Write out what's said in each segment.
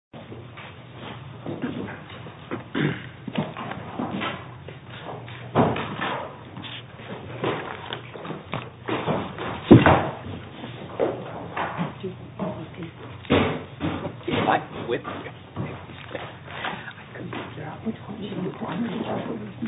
Shinseki Shrine Shinseki Shrine Shinseki Shrine Shinseki Shrine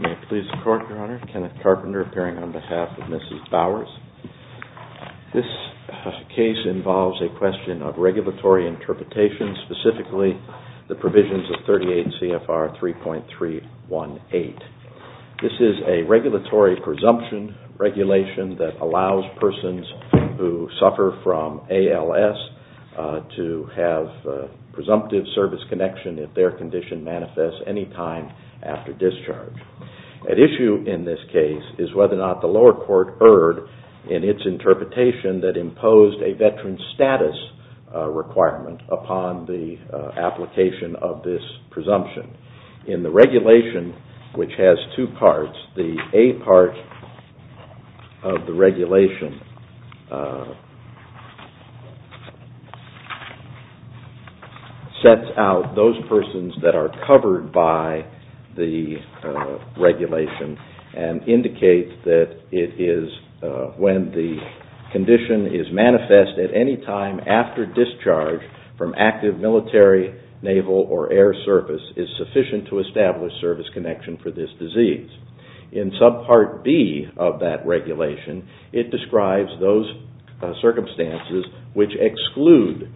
Mr. Carpenter, Kenneth Carpenter appearing on behalf of Mrs. Bowers. This case involves a question of regulatory interpretation, specifically the provisions of 38 CFR 3.318. This is a regulatory presumption regulation that allows persons who suffer from ALS to have presumptive service connection if their condition manifests any time after discharge. At issue in this case is whether or not the lower court erred in its interpretation that imposed a veteran status requirement upon the application of this presumption. In the regulation, which has two parts, the A part of the regulation sets out those persons that are covered by the regulation and indicates that it is when the condition is manifest at any time after discharge from active military, naval, or air service is sufficient to establish service connection for this disease. In subpart B of that regulation, it describes those circumstances which exclude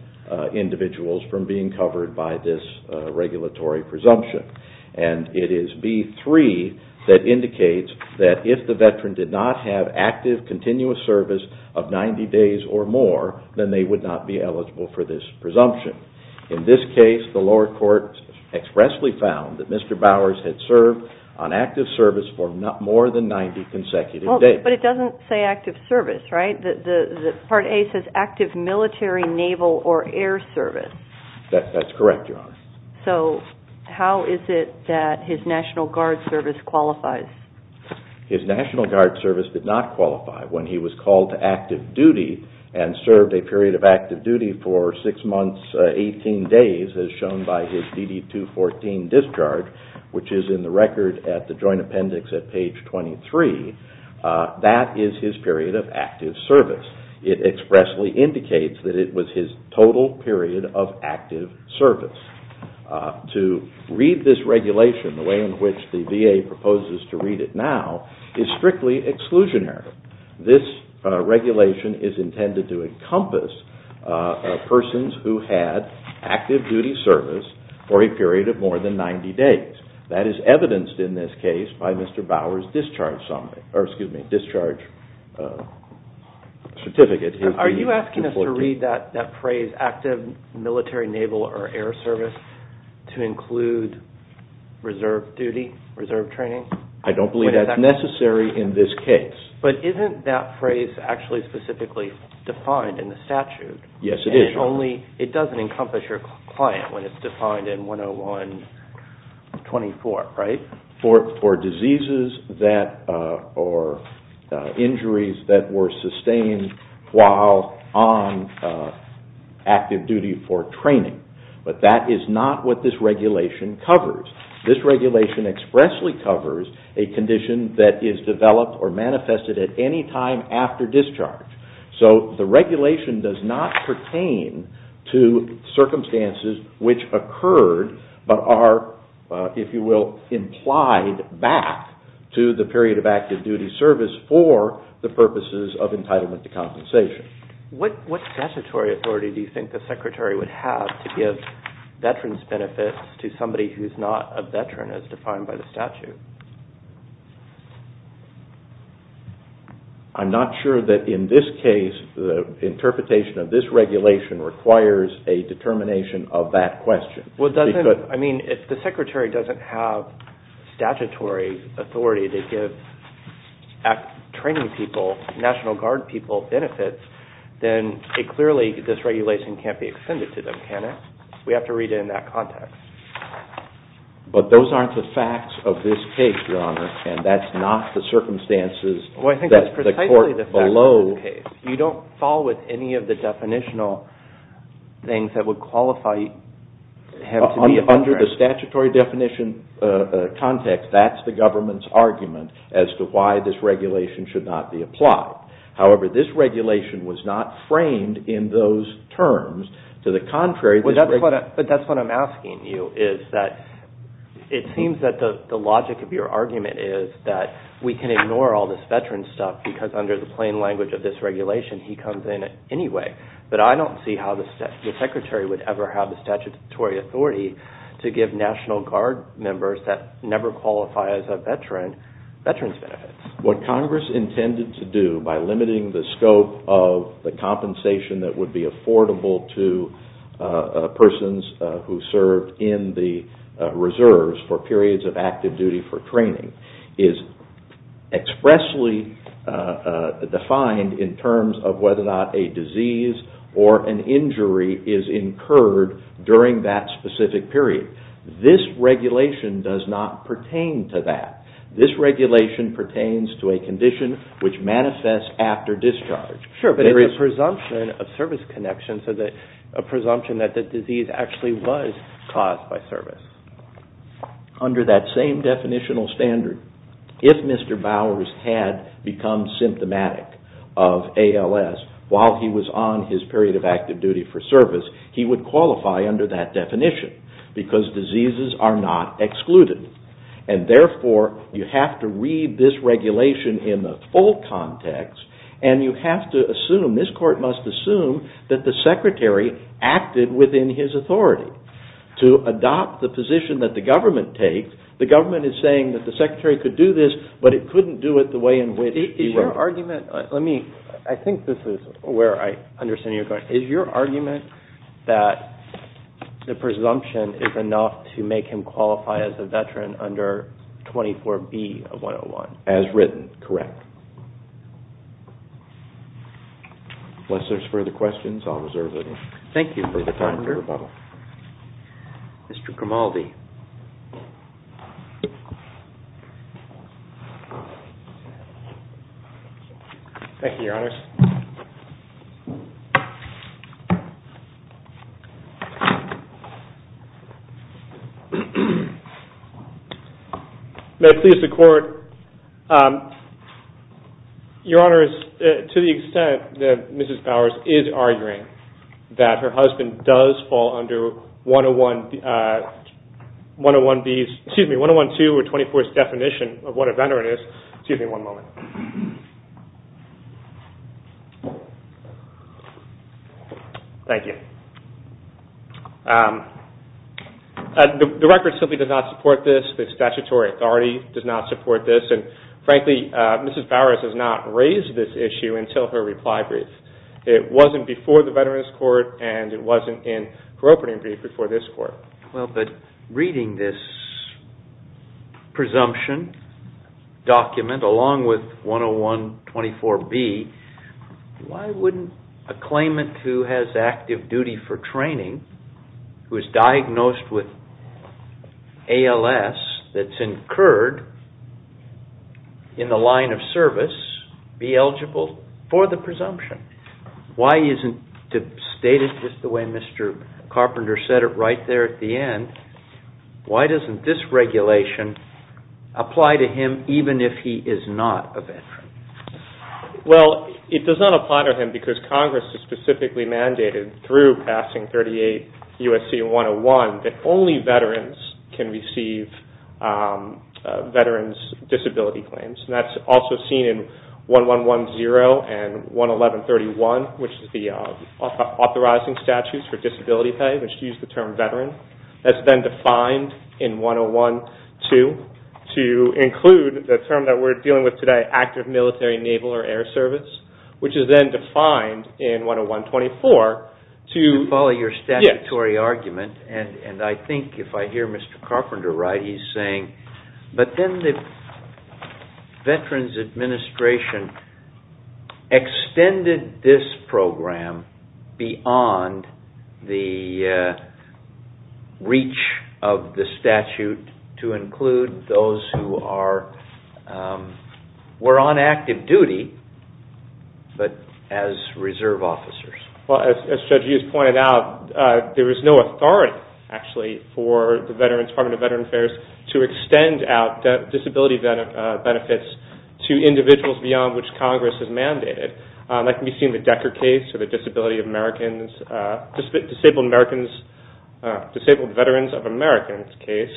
individuals from being covered by this regulatory presumption. It is B3 that indicates that if the veteran did not have active continuous service of 90 days or more, then they would not be eligible for this presumption. In this case, the lower court expressly found that Mr. Bowers had served on active service for more than 90 consecutive days. But it doesn't say active service, right? Part A says active military, naval, or air service. That's correct, Your Honor. So how is it that his National Guard service qualifies? His National Guard service did not qualify when he was called to active duty and served a period of active duty for six months, 18 days, as shown by his DD-214 discharge, which is in the record at the Joint Appendix at page 23. That is his period of active service. It expressly indicates that it was his total period of active service. To read this regulation the way in which the VA proposes to read it now is strictly exclusionary. This regulation is intended to encompass persons who had active duty service for a period of more than 90 days. That is evidenced in this case by Mr. Bowers' discharge certificate. Are you asking us to read that phrase, active military, naval, or air service, to include reserve duty, reserve training? I don't believe that's necessary in this case. But isn't that phrase actually specifically defined in the statute? Yes, it is. It doesn't encompass your client when it's defined in 101-24, right? For diseases or injuries that were sustained while on active duty for training. But that is not what this regulation covers. This regulation expressly covers a condition that is developed or manifested at any time after discharge. So the regulation does not pertain to circumstances which occurred but are, if you will, implied back to the period of active duty service for the purposes of entitlement to compensation. What statutory authority do you think the Secretary would have to give veterans' benefits to somebody who's not a veteran, as defined by the statute? I'm not sure that in this case the interpretation of this regulation requires a determination of that question. If the Secretary doesn't have statutory authority to give training people, National Guard people, benefits, then clearly this regulation can't be extended to them, can it? We have to read it in that context. But those aren't the facts of this case, Your Honor, and that's not the circumstances that the court below... Under the statutory definition context, that's the government's argument as to why this regulation should not be applied. However, this regulation was not framed in those terms. To the contrary... But that's what I'm asking you, is that it seems that the logic of your argument is that we can ignore all this veteran stuff because under the plain language of this regulation, he comes in anyway. But I don't see how the Secretary would ever have the statutory authority to give National Guard members that never qualify as a veteran, veterans' benefits. What Congress intended to do by limiting the scope of the compensation that would be affordable to persons who served in the reserves for periods of active duty for training is expressly defined in terms of whether or not a disease or an injury is incurred during that specific period. This regulation does not pertain to that. This regulation pertains to a condition which manifests after discharge. Sure, but there is a presumption of service connection, a presumption that the disease actually was caused by service. Under that same definitional standard, if Mr. Bowers had become symptomatic of ALS while he was on his period of active duty for service, he would qualify under that definition because diseases are not excluded. Therefore, you have to read this regulation in the full context and you have to assume, this Court must assume, that the Secretary acted within his authority to adopt the position that the government takes. The government is saying that the Secretary could do this, but it couldn't do it the way in which he would. Is your argument, let me, I think this is where I understand your question. Is your argument that the presumption is enough to make him qualify as a veteran under 24B of 101? As written, correct. Unless there's further questions, I'll reserve the time for rebuttal. Mr. Grimaldi. Thank you, Your Honors. May it please the Court, Your Honors, to the extent that Mrs. Bowers is arguing that her husband does fall under 102 or 24's definition of what a veteran is. Excuse me one moment. Thank you. The record simply does not support this. The statutory authority does not support this. Frankly, Mrs. Bowers has not raised this issue until her reply brief. It wasn't before the Veterans Court, and it wasn't in her opening brief before this Court. Well, but reading this presumption document along with 101-24B, why wouldn't a claimant who has active duty for training, who is diagnosed with ALS that's incurred in the line of service, be eligible for the presumption? Why isn't it stated just the way Mr. Carpenter said it right there at the end, why doesn't this regulation apply to him even if he is not a veteran? Well, it does not apply to him because Congress has specifically mandated through passing 38 U.S.C. 101 that only veterans can receive veterans' disability claims. That's also seen in 1110 and 11131, which is the authorizing statutes for disability pay, which use the term veteran. That's been defined in 101-2 to include the term that we're dealing with today, active military, naval, or air service, which is then defined in 101-24 to- You follow your statutory argument, and I think if I hear Mr. Carpenter right, but then the Veterans Administration extended this program beyond the reach of the statute to include those who were on active duty, but as reserve officers. Well, as Judge Hughes pointed out, there is no authority, actually, for the Department of Veterans Affairs to extend out disability benefits to individuals beyond which Congress has mandated. That can be seen in the Decker case or the Disabled Veterans of Americans case,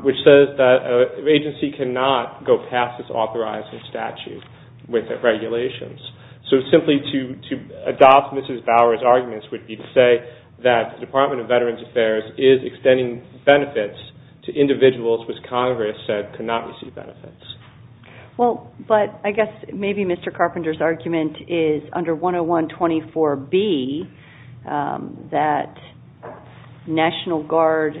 which says that an agency cannot go past this authorizing statute with regulations. So simply to adopt Mrs. Bauer's arguments would be to say that the Department of Veterans Affairs is extending benefits to individuals which Congress said cannot receive benefits. Well, but I guess maybe Mr. Carpenter's argument is under 101-24B that National Guard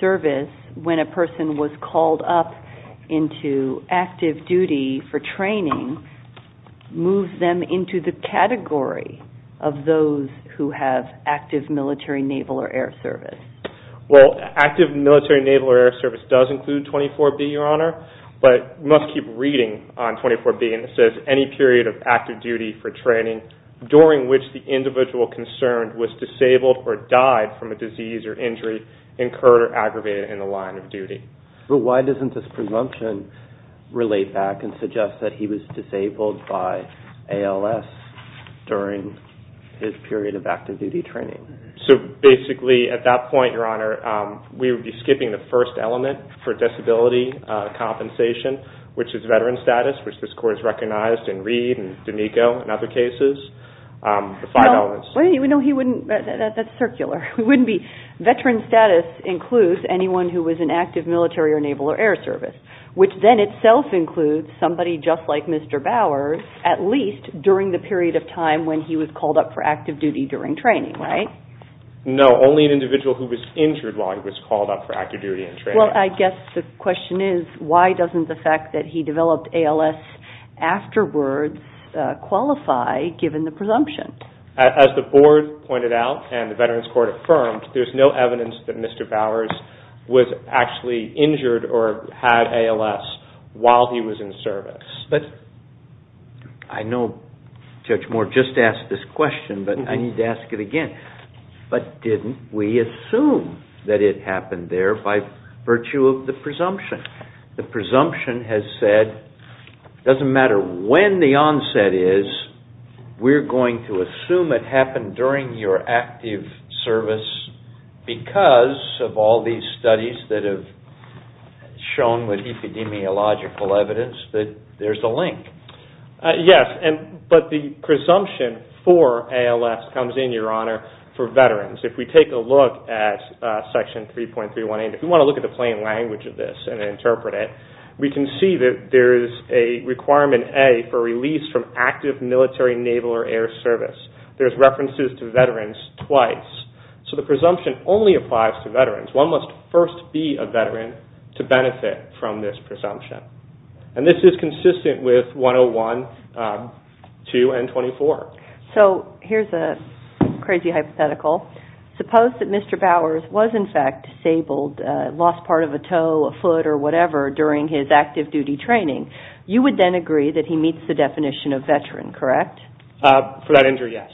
service, when a person was called up into active duty for training, moves them into the category of those who have active military, naval, or air service. Well, active military, naval, or air service does include 24-B, Your Honor, but you must keep reading on 24-B, and it says, any period of active duty for training during which the individual concerned was disabled or died from a disease or injury incurred or aggravated in the line of duty. But why doesn't this presumption relate back and suggest that he was disabled by ALS during his period of active duty training? So basically at that point, Your Honor, we would be skipping the first element for disability compensation, which is veteran status, which this Court has recognized in Reid and D'Amico and other cases, the five elements. No, that's circular. Veteran status includes anyone who was in active military or naval or air service, which then itself includes somebody just like Mr. Bowers, at least during the period of time when he was called up for active duty during training, right? No, only an individual who was injured while he was called up for active duty in training. Well, I guess the question is, why doesn't the fact that he developed ALS afterwards qualify, given the presumption? As the Board pointed out and the Veterans Court affirmed, there's no evidence that Mr. Bowers was actually injured or had ALS while he was in service. But I know Judge Moore just asked this question, but I need to ask it again. But didn't we assume that it happened there by virtue of the presumption? The presumption has said, it doesn't matter when the onset is, we're going to assume it happened during your active service because of all these studies that have shown with epidemiological evidence that there's a link. Yes, but the presumption for ALS comes in, Your Honor, for veterans. If we take a look at Section 3.318, if you want to look at the plain language of this and interpret it, we can see that there is a requirement, A, for release from active military, naval, or air service. There's references to veterans twice. So the presumption only applies to veterans. One must first be a veteran to benefit from this presumption. And this is consistent with 101, 2, and 24. So here's a crazy hypothetical. Suppose that Mr. Bowers was, in fact, disabled, lost part of a toe, a foot, or whatever during his active duty training. You would then agree that he meets the definition of veteran, correct? For that injury, yes.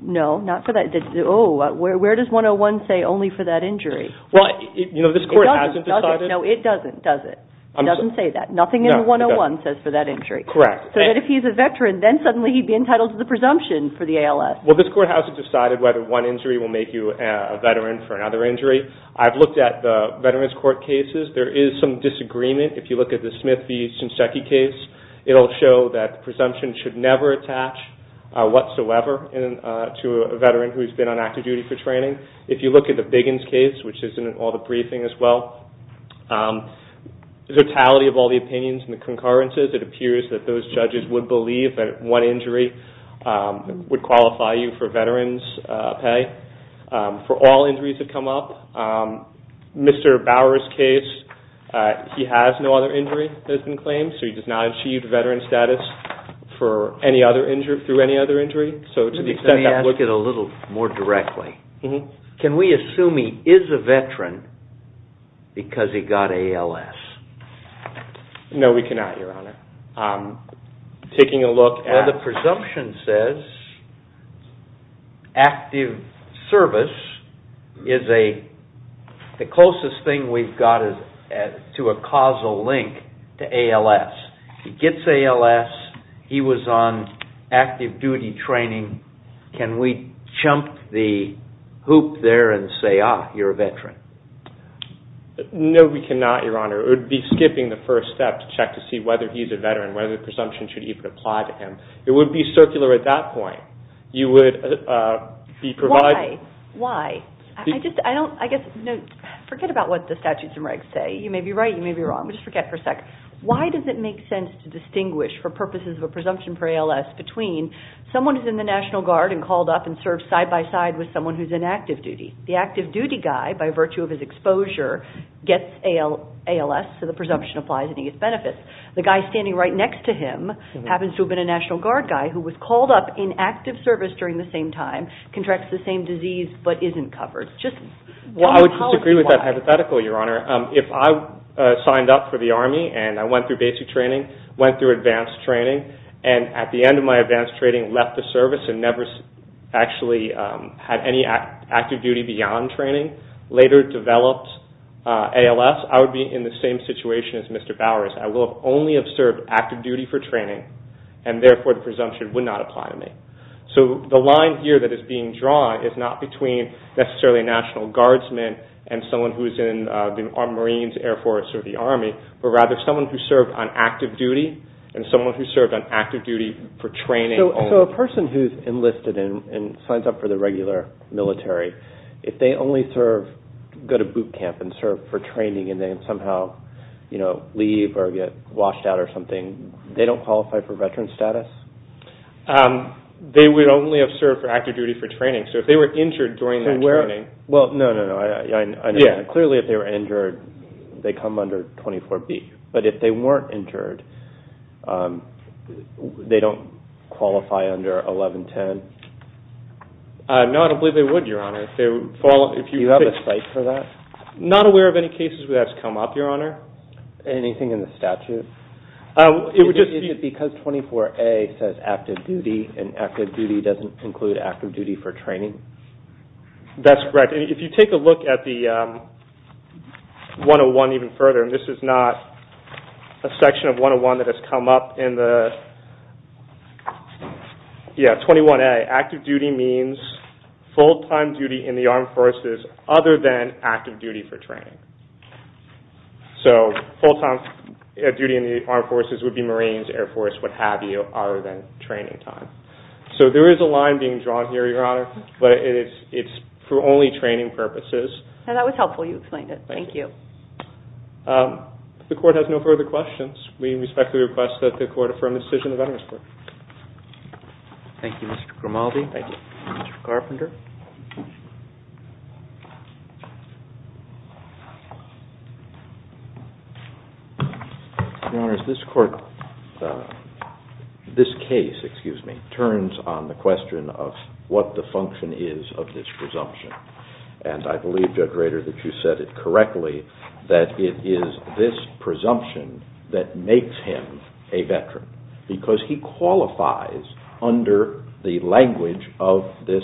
No, not for that. Oh, where does 101 say only for that injury? Well, you know, this Court hasn't decided. No, it doesn't, does it? It doesn't say that. Nothing in 101 says for that injury. Correct. So that if he's a veteran, then suddenly he'd be entitled to the presumption for the ALS. Well, this Court hasn't decided whether one injury will make you a veteran for another injury. I've looked at the Veterans Court cases. There is some disagreement. If you look at the Smith v. Shinseki case, it'll show that the presumption should never attach whatsoever to a veteran who's been on active duty for training. If you look at the Biggins case, which is in all the briefing as well, the totality of all the opinions and the concurrences, it appears that those judges would believe that one injury would qualify you for veterans' pay. For all injuries that come up. Mr. Bower's case, he has no other injury that has been claimed, so he does not achieve veteran status through any other injury. Let me ask it a little more directly. Can we assume he is a veteran because he got ALS? No, we cannot, Your Honor. Well, the presumption says active service is the closest thing we've got to a causal link to ALS. He gets ALS. He was on active duty training. Can we jump the hoop there and say, ah, you're a veteran? No, we cannot, Your Honor. It would be skipping the first step to check to see whether he's a veteran, whether the presumption should even apply to him. It would be circular at that point. Why? Forget about what the statutes and regs say. You may be right. You may be wrong. Just forget for a sec. Why does it make sense to distinguish, for purposes of a presumption for ALS, between someone who's in the National Guard and called up and served side-by-side with someone who's in active duty? The active duty guy, by virtue of his exposure, gets ALS. So the presumption applies and he gets benefits. The guy standing right next to him happens to have been a National Guard guy who was called up in active service during the same time, contracts the same disease, but isn't covered. I would disagree with that hypothetical, Your Honor. If I signed up for the Army and I went through basic training, went through advanced training, and at the end of my advanced training left the service and never actually had any active duty beyond training, later developed ALS, I would be in the same situation as Mr. Bowers. I will only have served active duty for training, and therefore the presumption would not apply to me. So the line here that is being drawn is not between necessarily a National Guardsman and someone who's in the Marines, Air Force, or the Army, but rather someone who served on active duty and someone who served on active duty for training only. So a person who's enlisted and signs up for the regular military, if they only go to boot camp and serve for training and then somehow leave or get washed out or something, they don't qualify for veteran status? They would only have served for active duty for training. Well, no, no, no. Clearly if they were injured, they come under 24B. But if they weren't injured, they don't qualify under 1110? No, I don't believe they would, Your Honor. Do you have a cite for that? Not aware of any cases where that's come up, Your Honor. Anything in the statute? Is it because 24A says active duty and active duty doesn't include active duty for training? That's correct. If you take a look at the 101 even further, and this is not a section of 101 that has come up in the, yeah, 21A. Active duty means full-time duty in the Armed Forces other than active duty for training. So full-time duty in the Armed Forces would be Marines, Air Force, what have you, other than training time. So there is a line being drawn here, Your Honor, but it's for only training purposes. That was helpful. You explained it. Thank you. If the Court has no further questions, we respectfully request that the Court affirm the decision of Veterans Court. Thank you, Mr. Grimaldi. Thank you. Mr. Carpenter. Your Honor, this Court, this case, excuse me, turns on the question of what the function is of this presumption. And I believe, Judge Rader, that you said it correctly, that it is this presumption that makes him a veteran because he qualifies under the language of this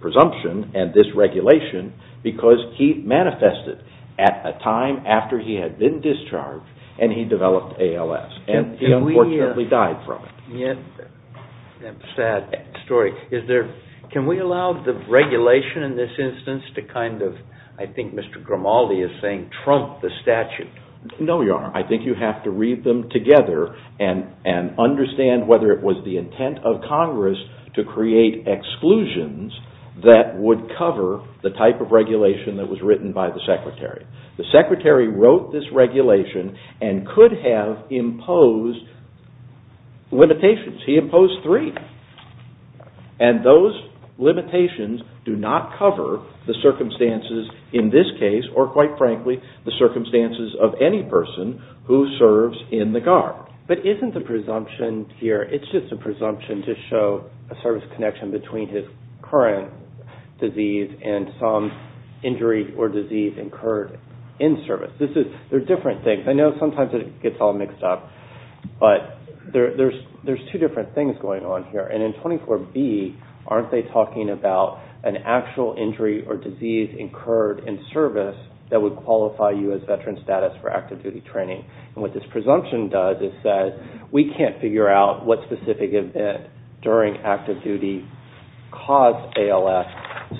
presumption and this regulation because he manifested at a time after he had been discharged and he developed ALS. And he unfortunately died from it. That's a sad story. Can we allow the regulation in this instance to kind of, I think Mr. Grimaldi is saying, trump the statute? No, Your Honor. I think you have to read them together and understand whether it was the intent of Congress to create exclusions that would cover the type of regulation that was written by the Secretary. The Secretary wrote this regulation and could have imposed limitations. He imposed three. And those limitations do not cover the circumstances in this case or, quite frankly, the circumstances of any person who serves in the Guard. But isn't the presumption here, it's just a presumption to show a service connection between his current disease and some injury or disease incurred in service. They're different things. I know sometimes it gets all mixed up. But there's two different things going on here. And in 24B, aren't they talking about an actual injury or disease incurred in service that would qualify you as veteran status for active duty training? And what this presumption does is that we can't figure out what specific event during active duty caused ALS.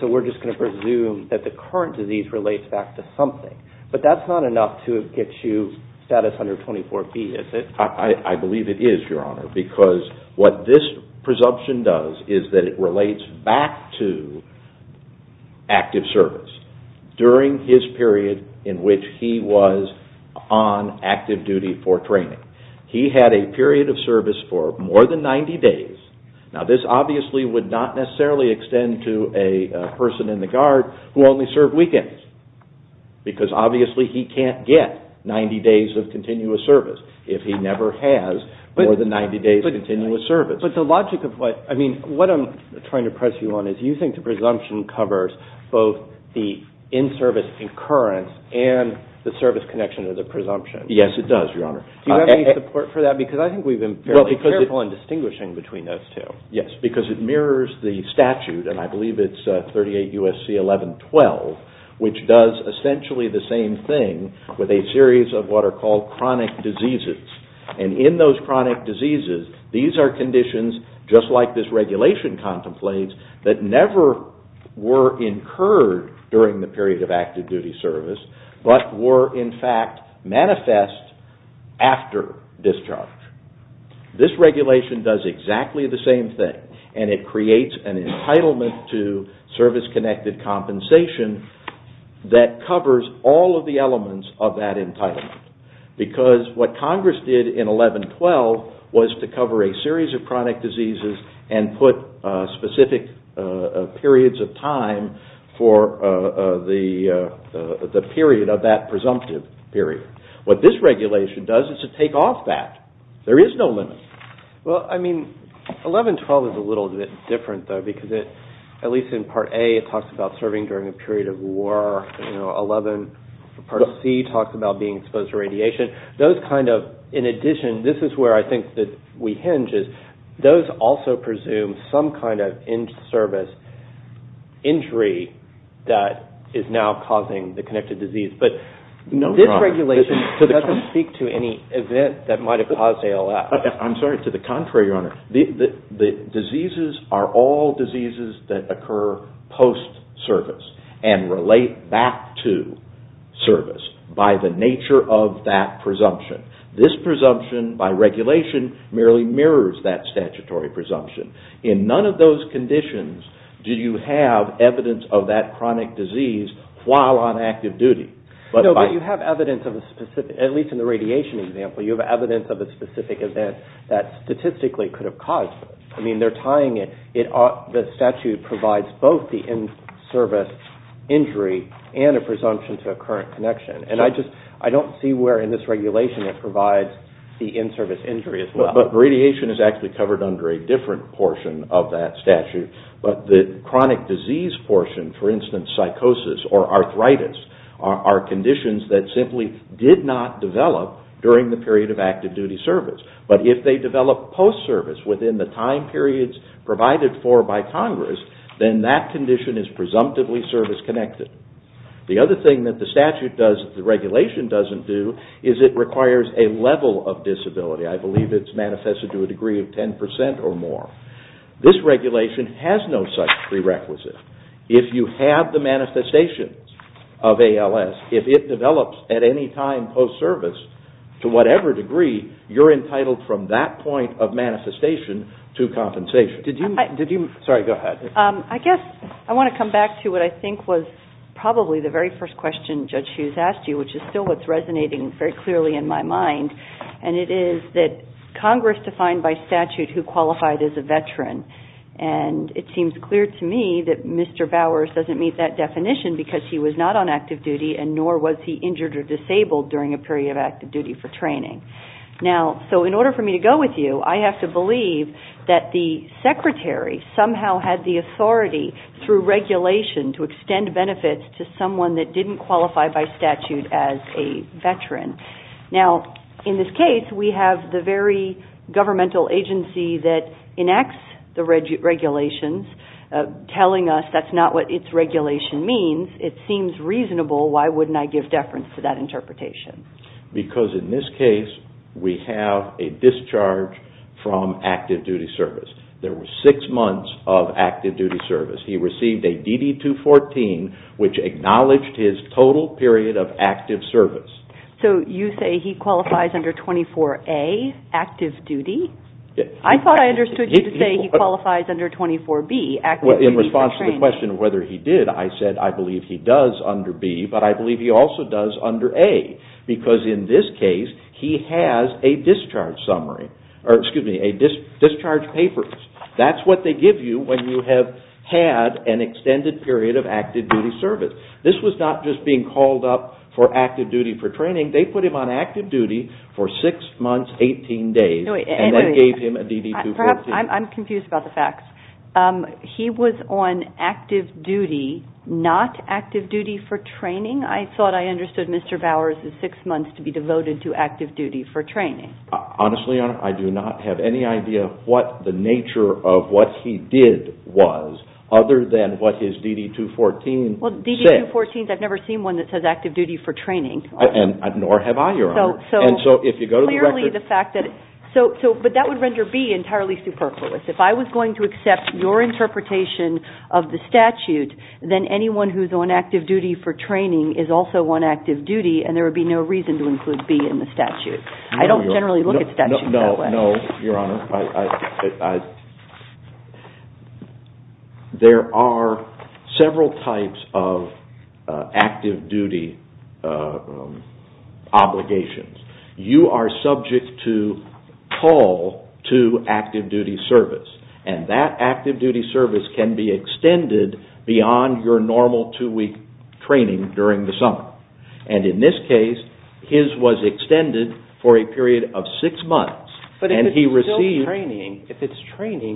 So we're just going to presume that the current disease relates back to something. But that's not enough to get you status under 24B, is it? I believe it is, Your Honor. Because what this presumption does is that it relates back to active service during his period in which he was on active duty for training. He had a period of service for more than 90 days. Now this obviously would not necessarily extend to a person in the Guard who only served weekends. Because obviously he can't get 90 days of continuous service if he never has more than 90 days of continuous service. But the logic of what I'm trying to press you on is you think the presumption covers both the in-service incurrence and the service connection of the presumption. Yes, it does, Your Honor. Do you have any support for that? Because I think we've been fairly careful in distinguishing between those two. Yes, because it mirrors the statute, and I believe it's 38 U.S.C. 1112, which does essentially the same thing with a series of what are called chronic diseases. And in those chronic diseases, these are conditions just like this regulation contemplates that never were incurred during the period of active duty service, but were in fact manifest after discharge. This regulation does exactly the same thing, and it creates an entitlement to service-connected compensation that covers all of the elements of that entitlement. Because what Congress did in 1112 was to cover a series of chronic diseases and put specific periods of time for the period of that presumptive period. What this regulation does is to take off that. There is no limit. Well, I mean, 1112 is a little bit different, though, because at least in Part A it talks about serving during a period of war. Part C talks about being exposed to radiation. In addition, this is where I think that we hinge, is those also presume some kind of in-service injury that is now causing the connected disease. This regulation doesn't speak to any event that might have caused ALS. I'm sorry, to the contrary, Your Honor. The diseases are all diseases that occur post-service and relate back to service by the nature of that presumption. This presumption, by regulation, merely mirrors that statutory presumption. In none of those conditions do you have evidence of that chronic disease while on active duty. No, but you have evidence of a specific, at least in the radiation example, you have evidence of a specific event that statistically could have caused it. I mean, they're tying it. The statute provides both the in-service injury and a presumption to a current connection. And I don't see where in this regulation it provides the in-service injury as well. But radiation is actually covered under a different portion of that statute. But the chronic disease portion, for instance, psychosis or arthritis, are conditions that simply did not develop during the period of active duty service. But if they develop post-service within the time periods provided for by Congress, then that condition is presumptively service-connected. The other thing that the statute does that the regulation doesn't do is it requires a level of disability. I believe it's manifested to a degree of 10 percent or more. This regulation has no such prerequisite. If you have the manifestations of ALS, if it develops at any time post-service to whatever degree, you're entitled from that point of manifestation to compensation. Sorry, go ahead. I guess I want to come back to what I think was probably the very first question Judge Hughes asked you, which is still what's resonating very clearly in my mind. It is that Congress defined by statute who qualified as a veteran. It seems clear to me that Mr. Bowers doesn't meet that definition because he was not on active duty and nor was he injured or disabled during a period of active duty for training. In order for me to go with you, I have to believe that the Secretary somehow had the authority through regulation to extend benefits to someone that didn't qualify by statute as a veteran. In this case, we have the very governmental agency that enacts the regulations telling us that's not what its regulation means. It seems reasonable. Why wouldn't I give deference to that interpretation? Because in this case, we have a discharge from active duty service. There were six months of active duty service. He received a DD-214, which acknowledged his total period of active service. So you say he qualifies under 24A, active duty? I thought I understood you to say he qualifies under 24B, active duty for training. In response to the question of whether he did, I said I believe he does under B, but I believe he also does under A. Because in this case, he has a discharge summary, or excuse me, a discharge paper. That's what they give you when you have had an extended period of active duty service. This was not just being called up for active duty for training. They put him on active duty for six months, 18 days, and then gave him a DD-214. I'm confused about the facts. He was on active duty, not active duty for training? I thought I understood Mr. Bowers' six months to be devoted to active duty for training. Honestly, Your Honor, I do not have any idea what the nature of what he did was other than what his DD-214 said. Well, DD-214s, I've never seen one that says active duty for training. Nor have I, Your Honor. So clearly the fact that, but that would render B entirely superfluous. If I was going to accept your interpretation of the statute, then anyone who is on active duty for training is also on active duty, and there would be no reason to include B in the statute. I don't generally look at statutes that way. I know, Your Honor. There are several types of active duty obligations. You are subject to call to active duty service, and that active duty service can be extended beyond your normal two-week training during the summer. And in this case, his was extended for a period of six months. But if it's still training,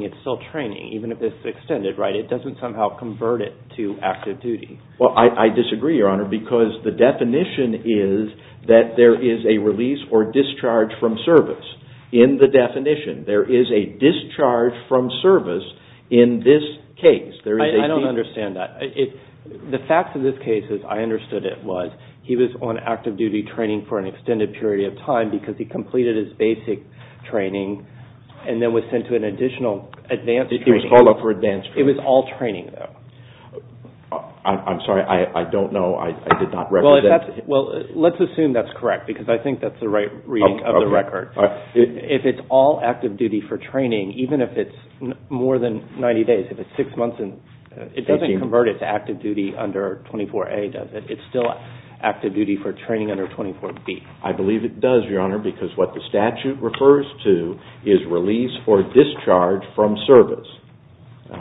it's still training, even if it's extended, right? It doesn't somehow convert it to active duty. Well, I disagree, Your Honor, because the definition is that there is a release or discharge from service. In the definition, there is a discharge from service in this case. I don't understand that. The fact of this case, as I understood it, was he was on active duty training for an extended period of time because he completed his basic training and then was sent to an additional advanced training. He was called up for advanced training. It was all training, though. I'm sorry. I don't know. I did not record that. Well, let's assume that's correct, because I think that's the right reading of the record. If it's all active duty for training, even if it's more than 90 days, it doesn't convert it to active duty under 24A, does it? It's still active duty for training under 24B. I believe it does, Your Honor, because what the statute refers to is release or discharge from service.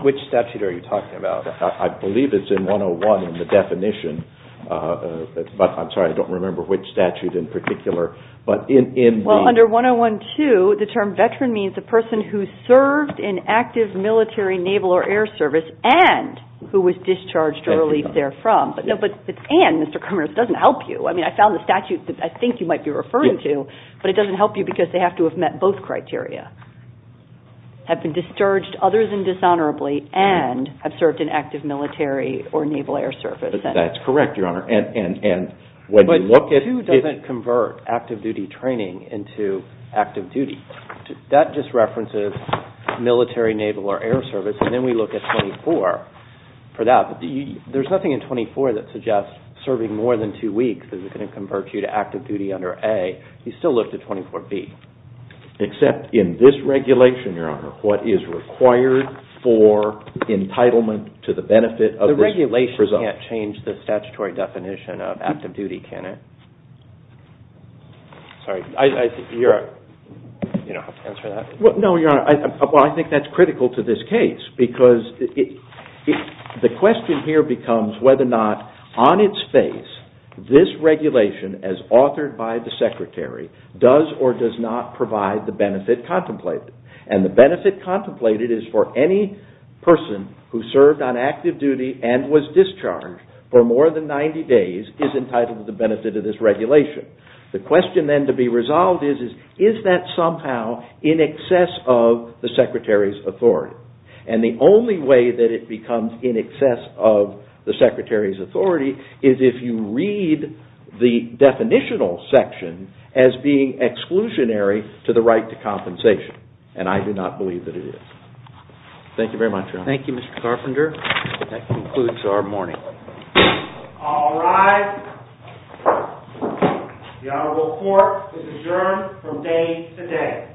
Which statute are you talking about? I believe it's in 101 in the definition. But I'm sorry, I don't remember which statute in particular, but in B. Well, under 101-2, the term veteran means a person who served in active military, naval, or air service and who was discharged or released therefrom. And, Mr. Cummings, it doesn't help you. I mean, I found the statute that I think you might be referring to, but it doesn't help you because they have to have met both criteria, have been discharged, others indishonorably, and have served in active military or naval air service. That's correct, Your Honor. But 2 doesn't convert active duty training into active duty. That just references military, naval, or air service, and then we look at 24 for that. There's nothing in 24 that suggests serving more than two weeks is going to convert you to active duty under A. You still look to 24B. Except in this regulation, Your Honor, what is required for entitlement to the benefit of this presumption. The regulation can't change the statutory definition of active duty, can it? Sorry. You don't have to answer that. No, Your Honor. Well, I think that's critical to this case because the question here becomes whether or not, on its face, this regulation as authored by the Secretary does or does not provide the benefit contemplated. And the benefit contemplated is for any person who served on active duty and was discharged for more than 90 days is entitled to the benefit of this regulation. The question then to be resolved is, is that somehow in excess of the Secretary's authority? And the only way that it becomes in excess of the Secretary's authority is if you read the definitional section as being exclusionary to the right to compensation, and I do not believe that it is. Thank you very much, Your Honor. Thank you, Mr. Carpenter. That concludes our morning. All rise. The Honorable Court is adjourned from day to day.